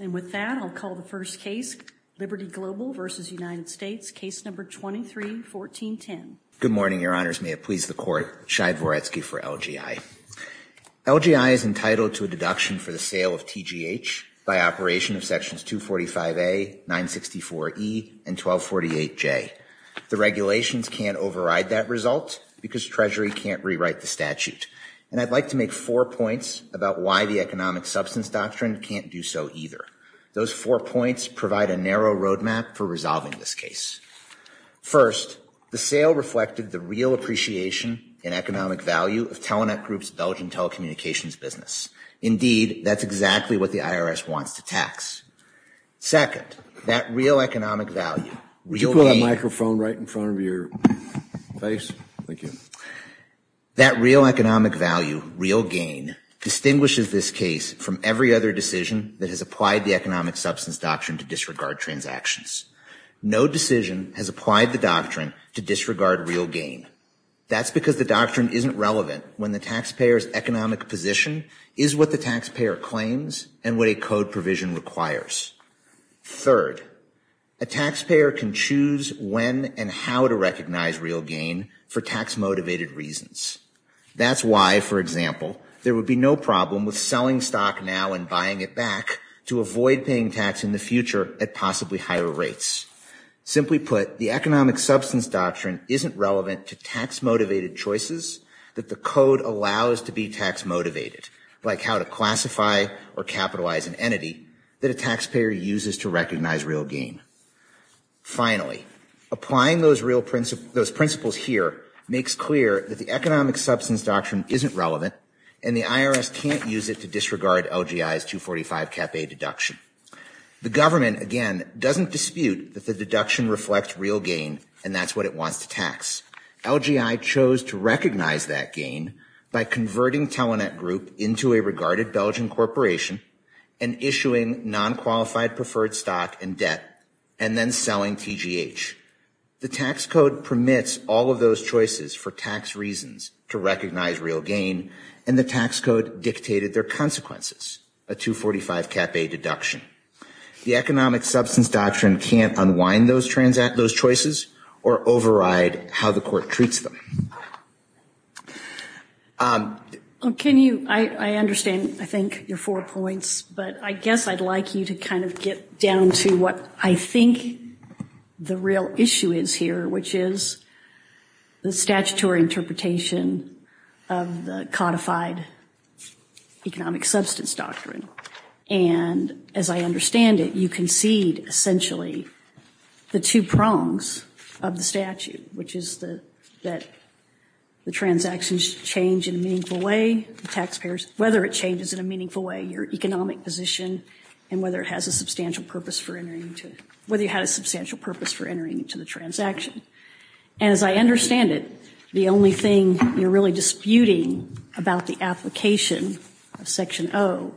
And with that, I'll call the first case, Liberty Global v. United States, Case No. 23-14-10. Good morning, Your Honors. May it please the Court, Shai Voretsky for LGI. LGI is entitled to a deduction for the sale of TGH by operation of Sections 245A, 964E, and 1248J. The regulations can't override that result because Treasury can't rewrite the statute. And I'd like to make four points about why the economic substance doctrine can't do so either. Those four points provide a narrow road map for resolving this case. First, the sale reflected the real appreciation and economic value of Telenet Group's intelligent telecommunications business. Indeed, that's exactly what the IRS wants to tax. Second, that real economic value, real gain... Could you put that microphone right in front of your face? Thank you. That real economic value, real gain, distinguishes this case from every other decision that has applied the economic substance doctrine to disregard transactions. No decision has applied the doctrine to disregard real gain. That's because the doctrine isn't relevant when the taxpayer's economic position is what the taxpayer claims and what a code provision requires. Third, a taxpayer can choose when and how to recognize real gain for tax-motivated reasons. That's why, for example, there would be no problem with selling stock now and buying it back to avoid paying tax in the future at possibly higher rates. Simply put, the economic substance doctrine isn't relevant to tax-motivated choices that the code allows to be tax-motivated, like how to classify or capitalize an entity that a taxpayer uses to recognize real gain. Finally, applying those principles here makes clear that the economic substance doctrine isn't relevant and the IRS can't use it to disregard LGI's 245 Cap A deduction. The government, again, doesn't dispute that the deduction reflects real gain and that's what it wants to tax. LGI chose to recognize that gain by converting Telenet Group into a regarded Belgian corporation and issuing non-qualified preferred stock and debt and then selling TGH. The tax code permits all of those choices for tax reasons to recognize real gain and the tax code dictated their consequences, a 245 Cap A deduction. The economic substance doctrine can't unwind those choices or override how the court treats them. I understand, I think, your four points, but I guess I'd like you to kind of get down to what I think the real issue is here, which is the statutory interpretation of the codified economic substance doctrine. And as I understand it, you concede essentially the two prongs of the statute, which is that the transactions change in a meaningful way, the taxpayers, whether it changes in a meaningful way, your economic position, and whether it has a substantial purpose for entering into, whether you had a substantial purpose for entering into the transaction. And as I understand it, the only thing you're really disputing about the application of Section O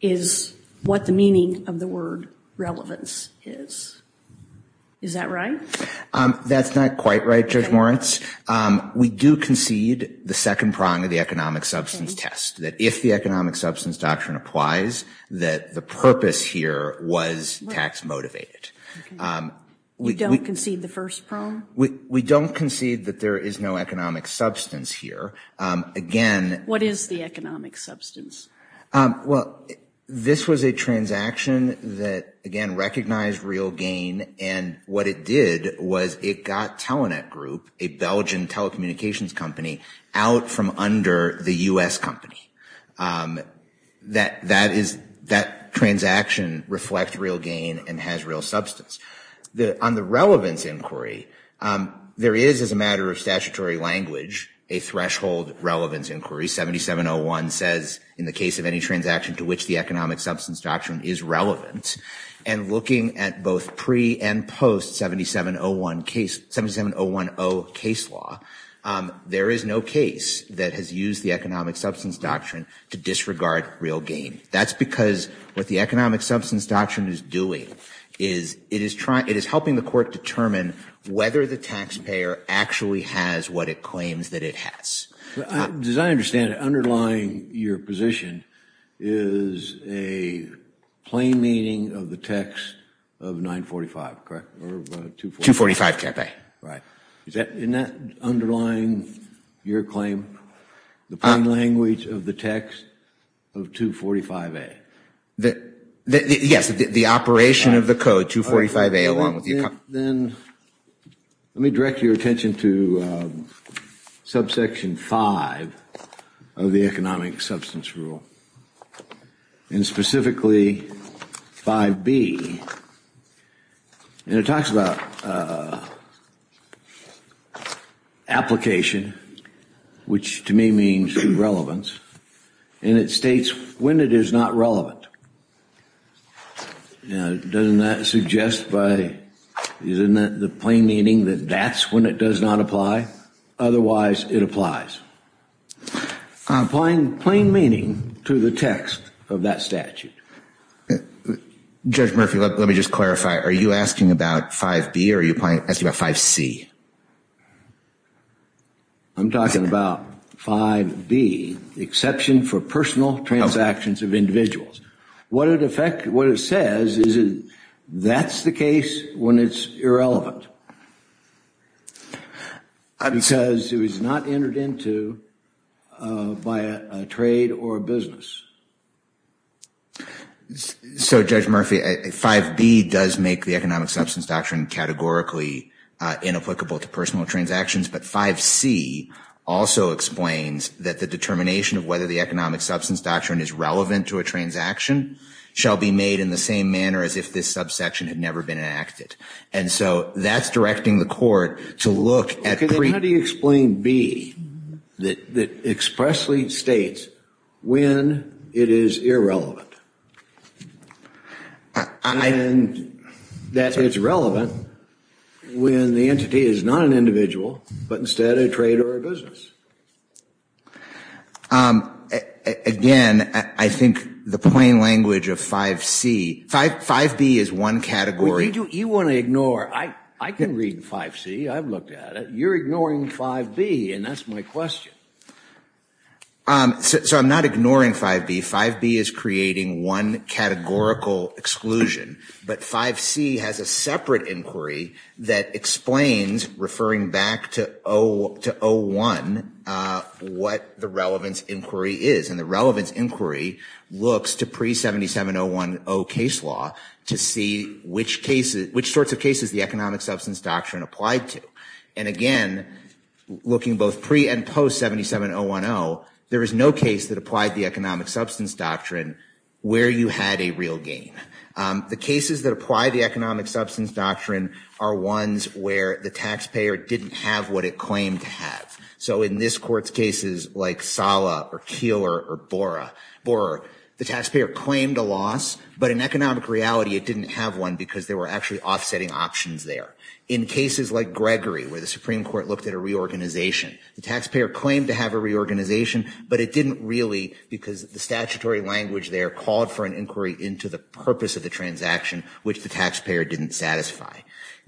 is what the meaning of the word relevance is. Is that right? That's not quite right, Judge Moritz. We do concede the second prong of the economic substance test, that if the economic substance doctrine applies, that the purpose here was tax motivated. You don't concede the first prong? We don't concede that there is no economic substance here. What is the economic substance? Well, this was a transaction that, again, recognized real gain, and what it did was it got Telenet Group, a Belgian telecommunications company, out from under the U.S. company. That transaction reflects real gain and has real substance. On the relevance inquiry, there is, as a matter of statutory language, a threshold relevance inquiry. 7701 says, in the case of any transaction to which the economic substance doctrine is relevant, and looking at both pre- and post-7701 case law, there is no case that has used the economic substance doctrine to disregard real gain. That's because what the economic substance doctrine is doing is it is helping the court determine whether the taxpayer actually has what it claims that it has. As I understand it, underlying your position is a plain meaning of the text of 945, correct, or 245? 245, Chapter 8. Right. Isn't that underlying your claim, the plain language of the text of 245A? Yes, the operation of the code, 245A, along with the economy. Then let me direct your attention to subsection 5 of the economic substance rule, and specifically 5B, and it talks about application, which to me means relevance, and it states when it is not relevant. Doesn't that suggest by the plain meaning that that's when it does not apply? Otherwise, it applies. Applying plain meaning to the text of that statute. Judge Murphy, let me just clarify. Are you asking about 5B or are you asking about 5C? I'm talking about 5B, exception for personal transactions of individuals. What it says is that's the case when it's irrelevant, because it was not entered into by a trade or a business. So, Judge Murphy, 5B does make the economic substance doctrine categorically inapplicable to personal transactions, but 5C also explains that the determination of whether the economic substance doctrine is relevant to a transaction shall be made in the same manner as if this subsection had never been enacted. And so that's directing the court to look at pre- How do you explain B that expressly states when it is irrelevant? And that it's relevant when the entity is not an individual, but instead a trade or a business. Again, I think the plain language of 5C, 5B is one category. You want to ignore. I can read 5C. I've looked at it. You're ignoring 5B, and that's my question. So I'm not ignoring 5B. 5B is creating one categorical exclusion, but 5C has a separate inquiry that explains, referring back to O1, what the relevance inquiry is. And the relevance inquiry looks to pre-77010 case law to see which sorts of cases the economic substance doctrine applied to. And again, looking both pre- and post-77010, there is no case that applied the economic substance doctrine where you had a real gain. The cases that apply the economic substance doctrine are ones where the taxpayer didn't have what it claimed to have. So in this court's cases, like Sala or Keeler or Borer, the taxpayer claimed a loss, but in economic reality, it didn't have one because they were actually offsetting options there. In cases like Gregory, where the Supreme Court looked at a reorganization, the taxpayer claimed to have a reorganization, but it didn't really because the statutory language there called for an inquiry into the purpose of the transaction, which the taxpayer didn't satisfy.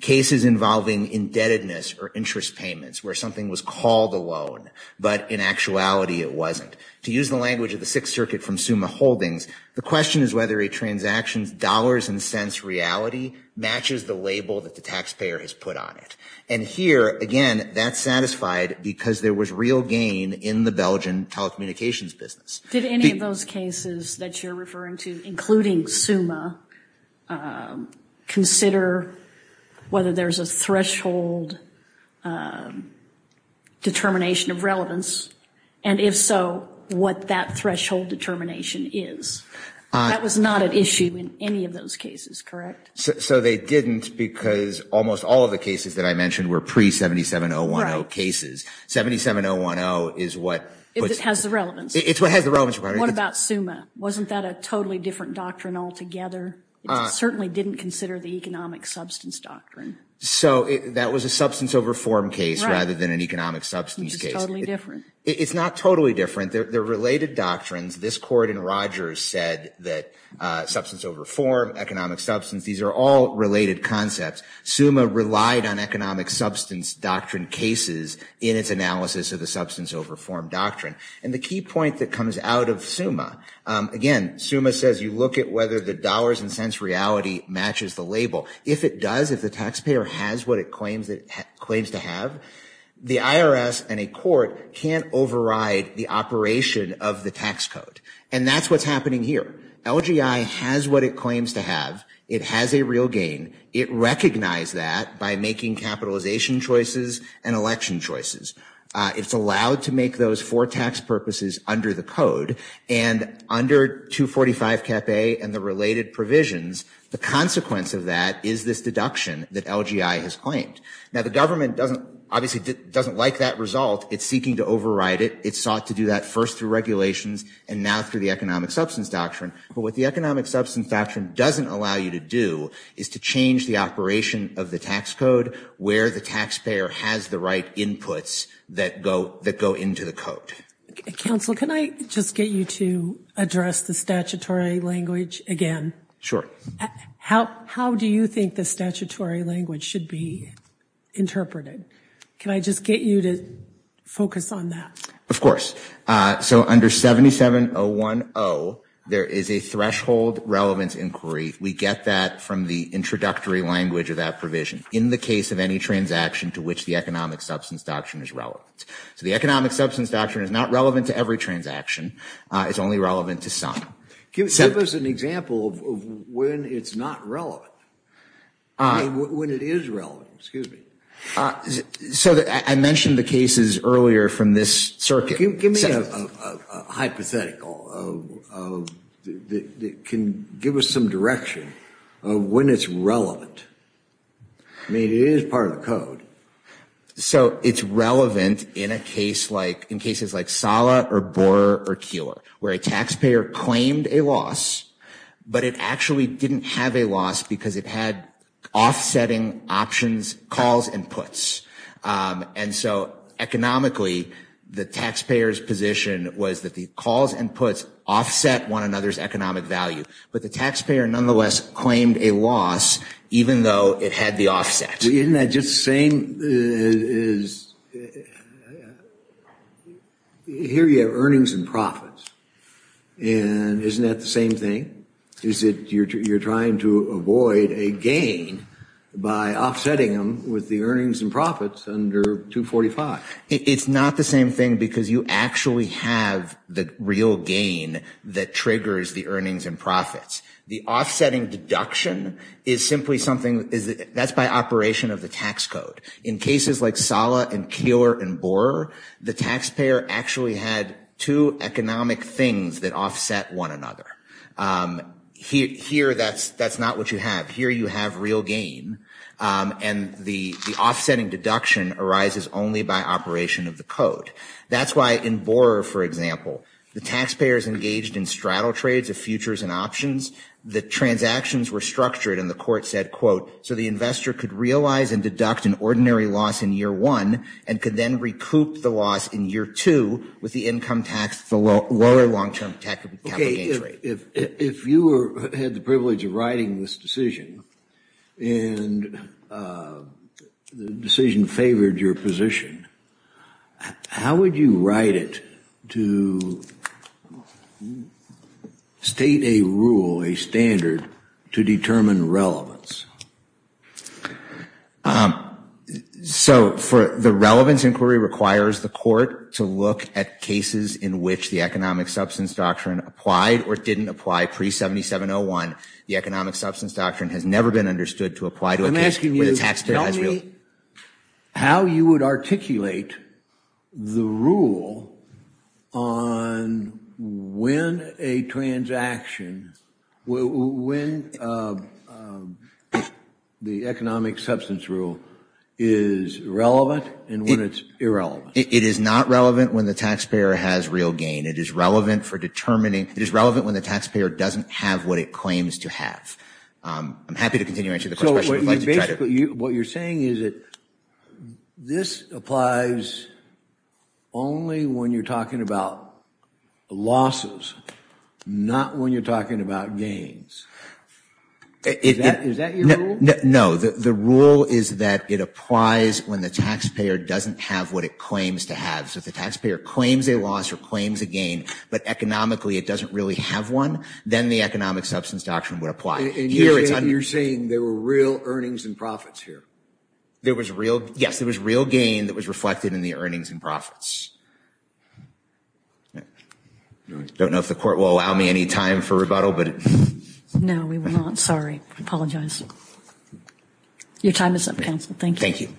Cases involving indebtedness or interest payments, where something was called a loan, but in actuality it wasn't. To use the language of the Sixth Circuit from Summa Holdings, the question is whether a transaction's dollars and cents reality matches the label that the taxpayer has put on it. And here, again, that's satisfied because there was real gain in the Belgian telecommunications business. Did any of those cases that you're referring to, including Summa, consider whether there's a threshold determination of relevance, and if so, what that threshold determination is? That was not an issue in any of those cases, correct? So they didn't because almost all of the cases that I mentioned were pre-77010 cases. 77010 is what has the relevance. It's what has the relevance. What about Summa? Wasn't that a totally different doctrine altogether? It certainly didn't consider the economic substance doctrine. So that was a substance over form case rather than an economic substance case. It's not totally different. They're related doctrines. This court in Rogers said that substance over form, economic substance, these are all related concepts. Summa relied on economic substance doctrine cases in its analysis of the substance over form doctrine. And the key point that comes out of Summa, again, Summa says you look at whether the dollars and cents reality matches the label. If it does, if the taxpayer has what it claims to have, the IRS and a court can't override the operation of the tax code. And that's what's happening here. LGI has what it claims to have. It has a real gain. It recognized that by making capitalization choices and election choices. It's allowed to make those for tax purposes under the code. And under 245 Cap A and the related provisions, the consequence of that is this deduction that LGI has claimed. Now the government obviously doesn't like that result. It's seeking to override it. It sought to do that first through regulations and now through the economic substance doctrine. But what the economic substance doctrine doesn't allow you to do is to change the operation of the tax code where the taxpayer has the right inputs that go into the code. Counsel, can I just get you to address the statutory language again? How do you think the statutory language should be interpreted? Can I just get you to focus on that? Of course. So under 77010, there is a threshold relevance inquiry. We get that from the introductory language of that provision. In the case of any transaction to which the economic substance doctrine is relevant. So the economic substance doctrine is not relevant to every transaction. It's only relevant to some. Give us an example of when it's not relevant. When it is relevant, excuse me. So I mentioned the cases earlier from this circuit. Give me a hypothetical. Give us some direction of when it's relevant. I mean, it is part of the code. So it's relevant in a case like, in cases like Sala or Borer or Keeler, where a taxpayer claimed a loss, but it actually didn't have a loss because it had offsetting options, calls and puts. And so economically, the taxpayer's position was that the calls and puts offset one another's economic value. But the taxpayer, nonetheless, claimed a loss, even though it had the offset. Isn't that just the same? Here you have earnings and profits. And isn't that the same thing? Is it you're trying to avoid a gain by offsetting them with the earnings and profits under 245? It's not the same thing because you actually have the real gain that triggers the earnings and profits. The offsetting deduction is simply something that's by operation of the tax code. In cases like Sala and Keeler and Borer, the taxpayer actually had two economic things that offset one another. Here that's not what you have. Here you have real gain. And the offsetting deduction arises only by operation of the code. That's why in Borer, for example, the taxpayers engaged in straddle trades of futures and options. The transactions were structured and the court said, quote, so the investor could realize and deduct an ordinary loss in year one and could then recoup the loss in year two with the income tax, the lower long-term capital gain trade. If you had the privilege of writing this decision and the decision favored your position, how would you write it to state a rule, a standard, to determine relevance? So the relevance inquiry requires the court to look at cases in which the rule didn't apply pre-7701. The economic substance doctrine has never been understood to apply to a case where the taxpayer has real gain. I'm asking you, tell me how you would articulate the rule on when a transaction, when the economic substance rule is relevant and when it's irrelevant. It is not relevant when the taxpayer has real gain. It is relevant for determining, it is relevant when the taxpayer doesn't have what it claims to have. I'm happy to continue answering the question. What you're saying is that this applies only when you're talking about losses, not when you're talking about gains. Is that your rule? No, the rule is that it applies when the taxpayer doesn't have what it claims to have. So if the taxpayer claims a loss or claims a gain, but economically it doesn't really have one, then the economic substance doctrine would apply. And you're saying there were real earnings and profits here? Yes, there was real gain that was reflected in the earnings and profits. I don't know if the court will allow me any time for rebuttal. No, we will not. Sorry. I apologize. Your time is up, counsel. Thank you.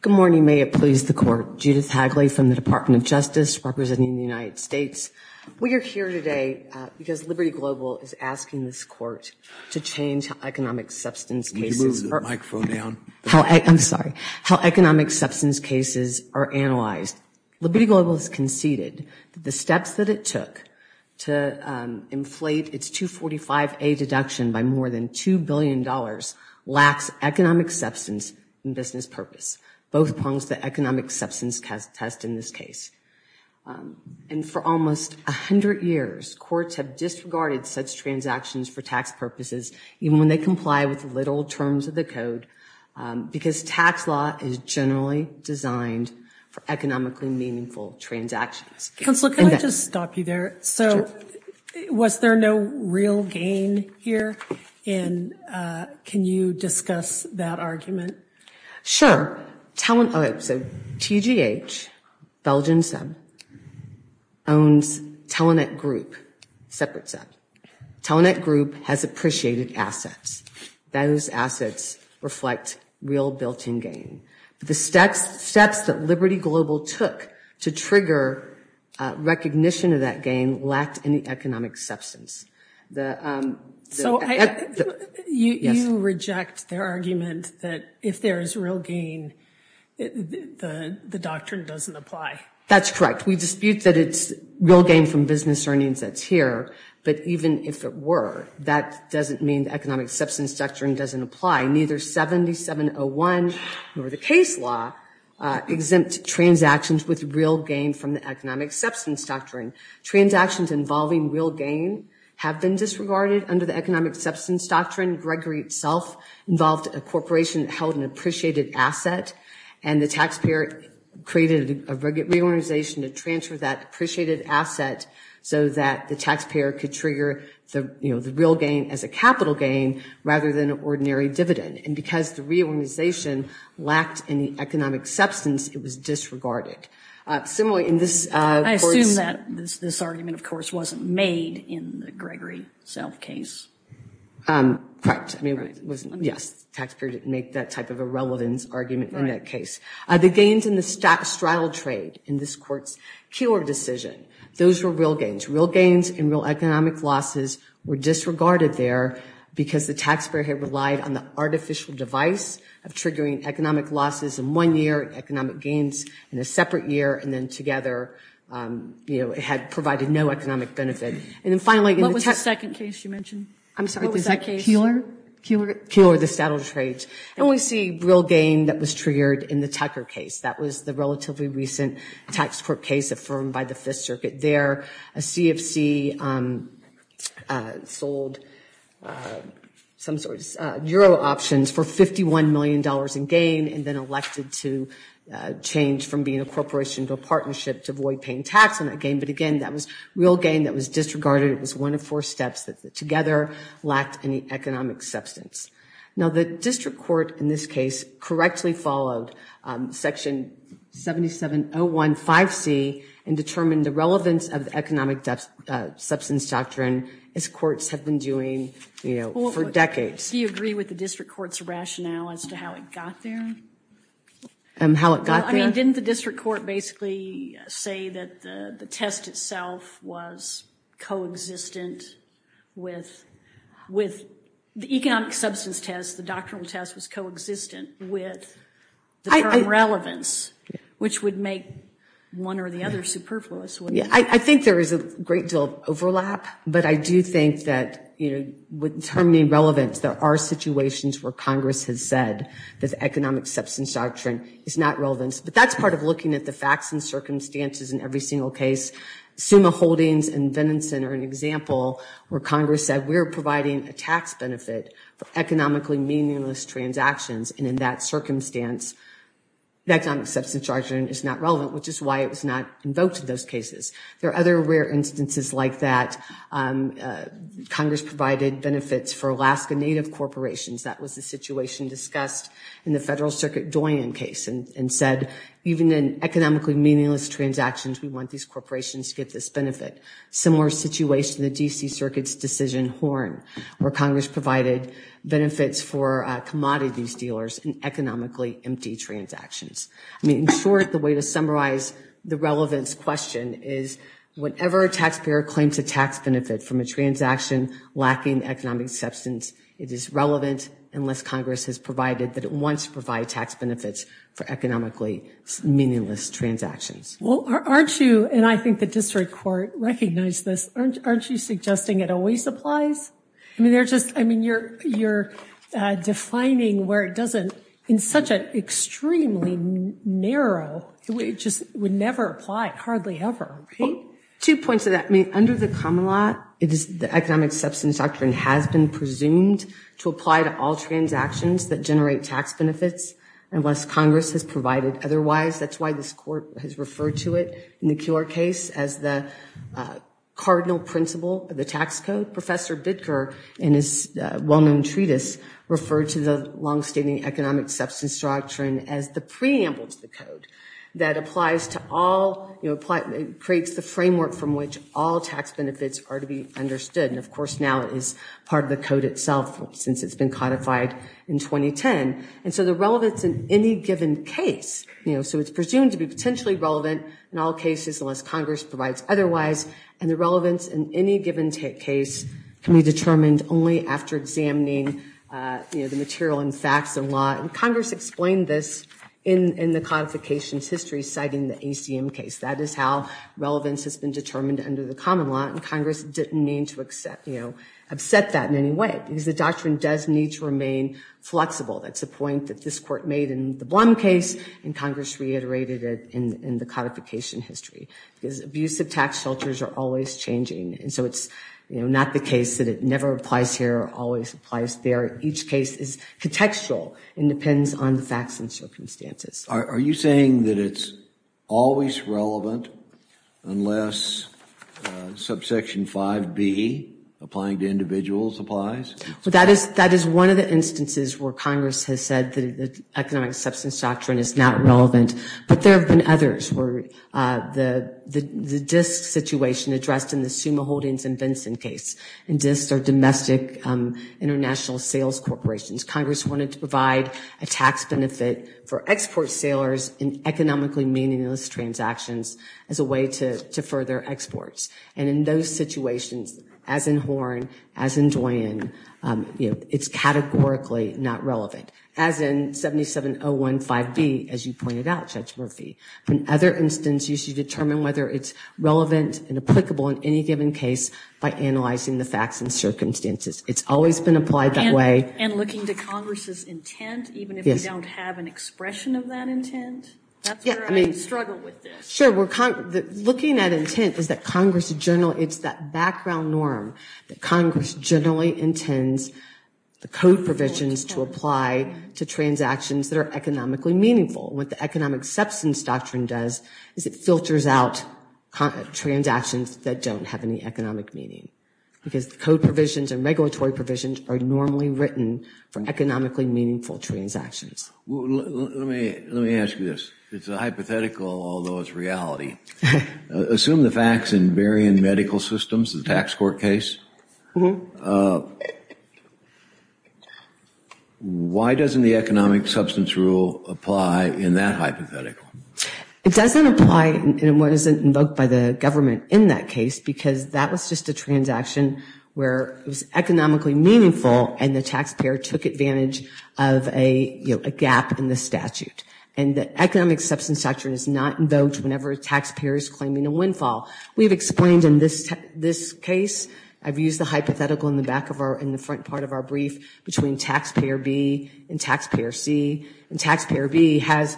Good morning. May it please the court. Judith Hagley from the Department of Justice representing the United States. We are here today because Liberty Global is asking this court to change economic substance cases. Would you move the microphone down? I'm sorry. How economic substance cases are analyzed. First, Liberty Global has conceded that the steps that it took to inflate its 245A deduction by more than $2 billion lacks economic substance and business purpose. Both prongs the economic substance test in this case. And for almost 100 years, courts have disregarded such transactions for tax purposes even when they comply with the literal terms of the code because tax law is generally designed for economically meaningful transactions. Counselor, can I just stop you there? Sure. So was there no real gain here? And can you discuss that argument? Sure. So TGH, Belgian SEB, owns Telenet Group, separate SEB. Telenet Group has appreciated assets. Those assets reflect real built-in gain. The steps that Liberty Global took to trigger recognition of that gain lacked any economic substance. So you reject their argument that if there is real gain, the doctrine doesn't apply? That's correct. We dispute that it's real gain from business earnings that's here. But even if it were, that doesn't mean the economic substance doctrine doesn't apply. Neither 7701 nor the case law exempt transactions with real gain from the economic substance doctrine. Transactions involving real gain have been disregarded under the economic substance doctrine. Gregory itself involved a corporation that held an appreciated asset, and the taxpayer created a reorganization to transfer that appreciated asset so that the taxpayer could trigger the real gain as a capital gain rather than an ordinary dividend. And because the reorganization lacked any economic substance, it was disregarded. I assume that this argument, of course, wasn't made in the Gregory self-case. Yes, the taxpayer didn't make that type of a relevance argument in that case. The gains in the straddle trade in this court's Keillor decision, those were real gains. Real gains and real economic losses were disregarded there because the taxpayer had relied on the artificial device of triggering economic losses in one year, economic gains in a separate year, and then together it had provided no economic benefit. What was the second case you mentioned? I'm sorry. What was that case? Keillor. Keillor, the straddle trade. And we see real gain that was triggered in the Tucker case. That was the relatively recent tax court case affirmed by the Fifth Circuit there. A CFC sold some sort of euro options for $51 million in gain and then elected to change from being a corporation to a partnership to avoid paying tax on that gain. But again, that was real gain that was disregarded. It was one of four steps that together lacked any economic substance. Now, the district court in this case correctly followed Section 77015C and determined the relevance of the economic substance doctrine, as courts have been doing for decades. Do you agree with the district court's rationale as to how it got there? How it got there? Didn't the district court basically say that the test itself was co-existent with the economic substance test, the doctrinal test was co-existent with the term relevance, which would make one or the other superfluous? I think there is a great deal of overlap, but I do think that with the term relevance there are situations where Congress has said that the economic substance doctrine is not relevant. But that's part of looking at the facts and circumstances in every single case. Suma Holdings and Venison are an example where Congress said we're providing a tax benefit for economically meaningless transactions, and in that circumstance the economic substance doctrine is not relevant, which is why it was not invoked in those cases. There are other rare instances like that. Congress provided benefits for Alaska Native corporations. That was the situation discussed in the Federal Circuit Doyen case and said even in economically meaningless transactions, we want these corporations to get this benefit. Similar situation, the D.C. Circuit's decision Horn, where Congress provided benefits for commodities dealers in economically empty transactions. In short, the way to summarize the relevance question is whenever a taxpayer claims a tax benefit from a transaction lacking economic substance, it is relevant unless Congress has provided that it wants to provide tax benefits for economically meaningless transactions. Well, aren't you, and I think the district court recognized this, aren't you suggesting it always applies? I mean, you're defining where it doesn't in such an extremely narrow, it just would never apply, hardly ever, right? Two points to that. Under the common law, the economic substance doctrine has been presumed to apply to all transactions that generate tax benefits unless Congress has provided otherwise. That's why this court has referred to it in the Cure case as the cardinal principle of the tax code. Professor Bidker in his well-known treatise referred to the longstanding economic substance doctrine as the preamble to the code that applies to all, you know, creates the framework from which all tax benefits are to be understood. And of course now it is part of the code itself since it's been codified in 2010. And so the relevance in any given case, you know, so it's presumed to be potentially relevant in all cases unless Congress provides otherwise. And the relevance in any given case can be determined only after examining, you know, the material and facts and law. And Congress explained this in the codification's history citing the ACM case. That is how relevance has been determined under the common law. And Congress didn't mean to accept, you know, upset that in any way because the doctrine does need to remain flexible. That's a point that this court made in the Blum case and Congress reiterated it in the codification history. Because abuse of tax shelters are always changing. And so it's, you know, not the case that it never applies here or always applies there. Each case is contextual and depends on the facts and circumstances. Are you saying that it's always relevant unless subsection 5B, applying to individuals, applies? That is one of the instances where Congress has said that the economic substance doctrine is not relevant. But there have been others where the disk situation addressed in the Summa Holdings and Benson case. And disks are domestic international sales corporations. Congress wanted to provide a tax benefit for export sailors in economically meaningless transactions as a way to further exports. And in those situations, as in Horne, as in Duane, you know, it's categorically not relevant. As in 77015B, as you pointed out, Judge Murphy. In other instances, you should determine whether it's relevant and applicable in any given case by analyzing the facts and circumstances. It's always been applied that way. And looking to Congress's intent, even if we don't have an expression of that intent? That's where I struggle with this. Sure. Looking at intent is that Congress generally, it's that background norm that Congress generally intends the code provisions to apply to transactions that are economically meaningful. What the economic substance doctrine does is it filters out transactions that don't have any economic meaning. Because the code provisions and regulatory provisions are normally written for economically meaningful transactions. Let me ask you this. It's a hypothetical, although it's reality. Assume the facts in varying medical systems, the tax court case. Why doesn't the economic substance rule apply in that hypothetical? It doesn't apply in what is invoked by the government in that case, because that was just a transaction where it was economically meaningful, and the taxpayer took advantage of a gap in the statute. And the economic substance doctrine is not invoked whenever a taxpayer is claiming a windfall. We've explained in this case, I've used the hypothetical in the front part of our brief, between taxpayer B and taxpayer C. And taxpayer B has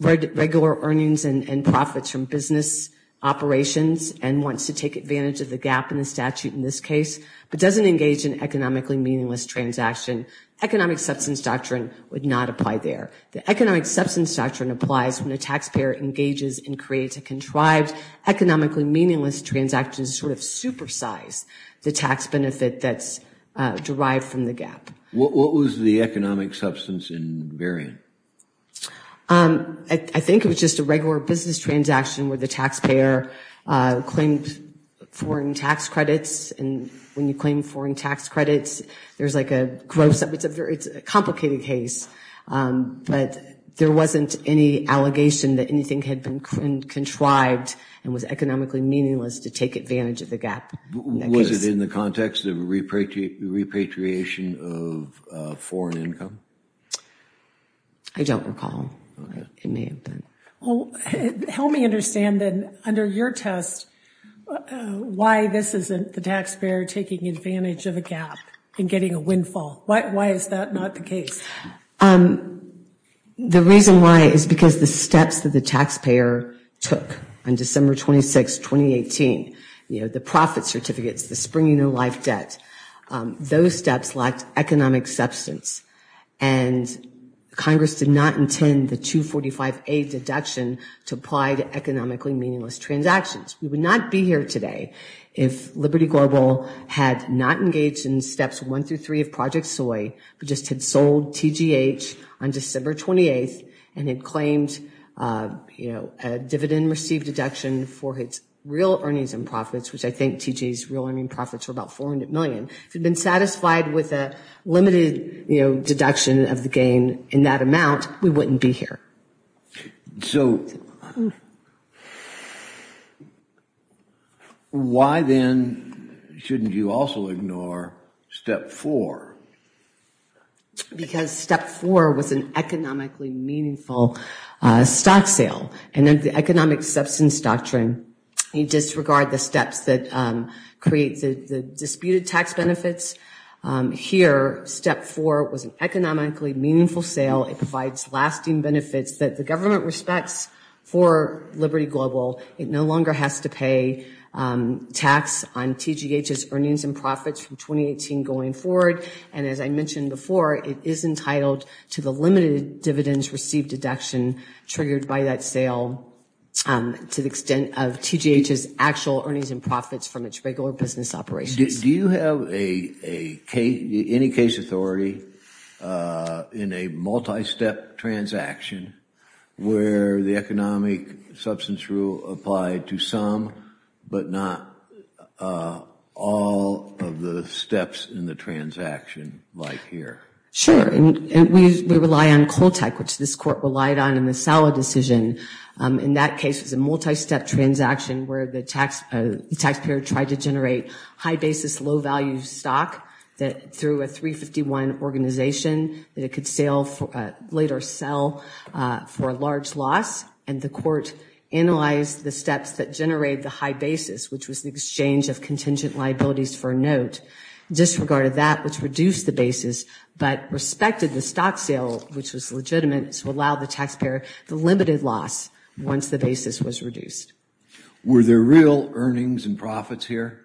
regular earnings and profits from business operations and wants to take advantage of the gap in the statute in this case, but doesn't engage in economically meaningless transaction. Economic substance doctrine would not apply there. The economic substance doctrine applies when a taxpayer engages and creates a contrived, economically meaningless transaction to sort of supersize the tax benefit that's derived from the gap. What was the economic substance in variant? I think it was just a regular business transaction where the taxpayer claimed foreign tax credits. And when you claim foreign tax credits, there's like a gross, it's a complicated case. But there wasn't any allegation that anything had been contrived and was economically meaningless to take advantage of the gap. Was it in the context of repatriation of foreign income? I don't recall. It may have been. Help me understand then, under your test, why this isn't the taxpayer taking advantage of a gap and getting a windfall? Why is that not the case? The reason why is because the steps that the taxpayer took on December 26, 2018, the profit certificates, the springing of life debt, those steps lacked economic substance. And Congress did not intend the 245A deduction to apply to economically meaningless transactions. We would not be here today if Liberty Global had not engaged in steps one through three of Project Soy, but just had sold TGH on December 28th and had claimed a dividend received deduction for its real earnings and profits, which I think TGH's real earnings and profits were about $400 million. If it had been satisfied with a limited deduction of the gain in that amount, we wouldn't be here. So why then shouldn't you also ignore step four? Because step four was an economically meaningful stock sale. And in the economic substance doctrine, you disregard the steps that create the disputed tax benefits. Here, step four was an economically meaningful sale. It provides lasting benefits that the government respects for Liberty Global. It no longer has to pay tax on TGH's earnings and profits from 2018 going forward. And as I mentioned before, it is entitled to the limited dividends received deduction triggered by that sale to the extent of TGH's actual earnings and profits from its regular business operations. Do you have any case authority in a multi-step transaction where the economic substance rule applied to some but not all of the steps in the transaction like here? Sure. We rely on Coltec, which this court relied on in the Sala decision. In that case, it was a multi-step transaction where the taxpayer tried to generate high basis low value stock through a 351 organization that it could later sell for a large loss. And the court analyzed the steps that generate the high basis, which was the exchange of contingent liabilities for a note, disregarded that which reduced the basis, but respected the stock sale, which was legitimate to allow the taxpayer the limited loss once the basis was reduced. Were there real earnings and profits here?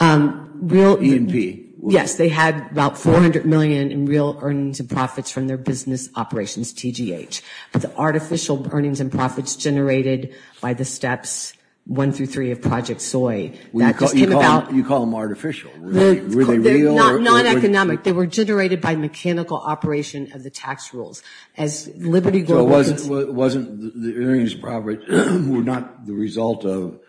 Real? E&P. Yes, they had about 400 million in real earnings and profits from their business operations TGH. But the artificial earnings and profits generated by the steps one through three of Project Soy, that just came about. You call them artificial. Were they real? Non-economic. They were generated by mechanical operation of the tax rules. So it wasn't the earnings and profits were not the result of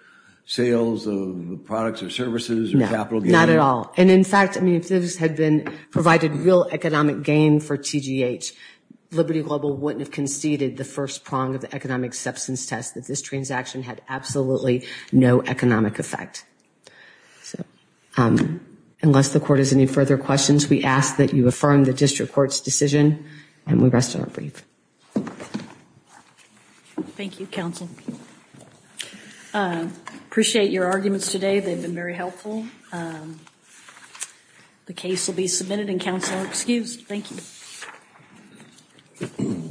sales of products or services or capital gains? No, not at all. And in fact, if this had provided real economic gain for TGH, Liberty Global wouldn't have conceded the first prong of the economic substance test, that this transaction had absolutely no economic effect. Unless the court has any further questions, we ask that you affirm the district court's decision, and we rest our brief. Thank you, counsel. Appreciate your arguments today. They've been very helpful. The case will be submitted and counsel excused. Thank you.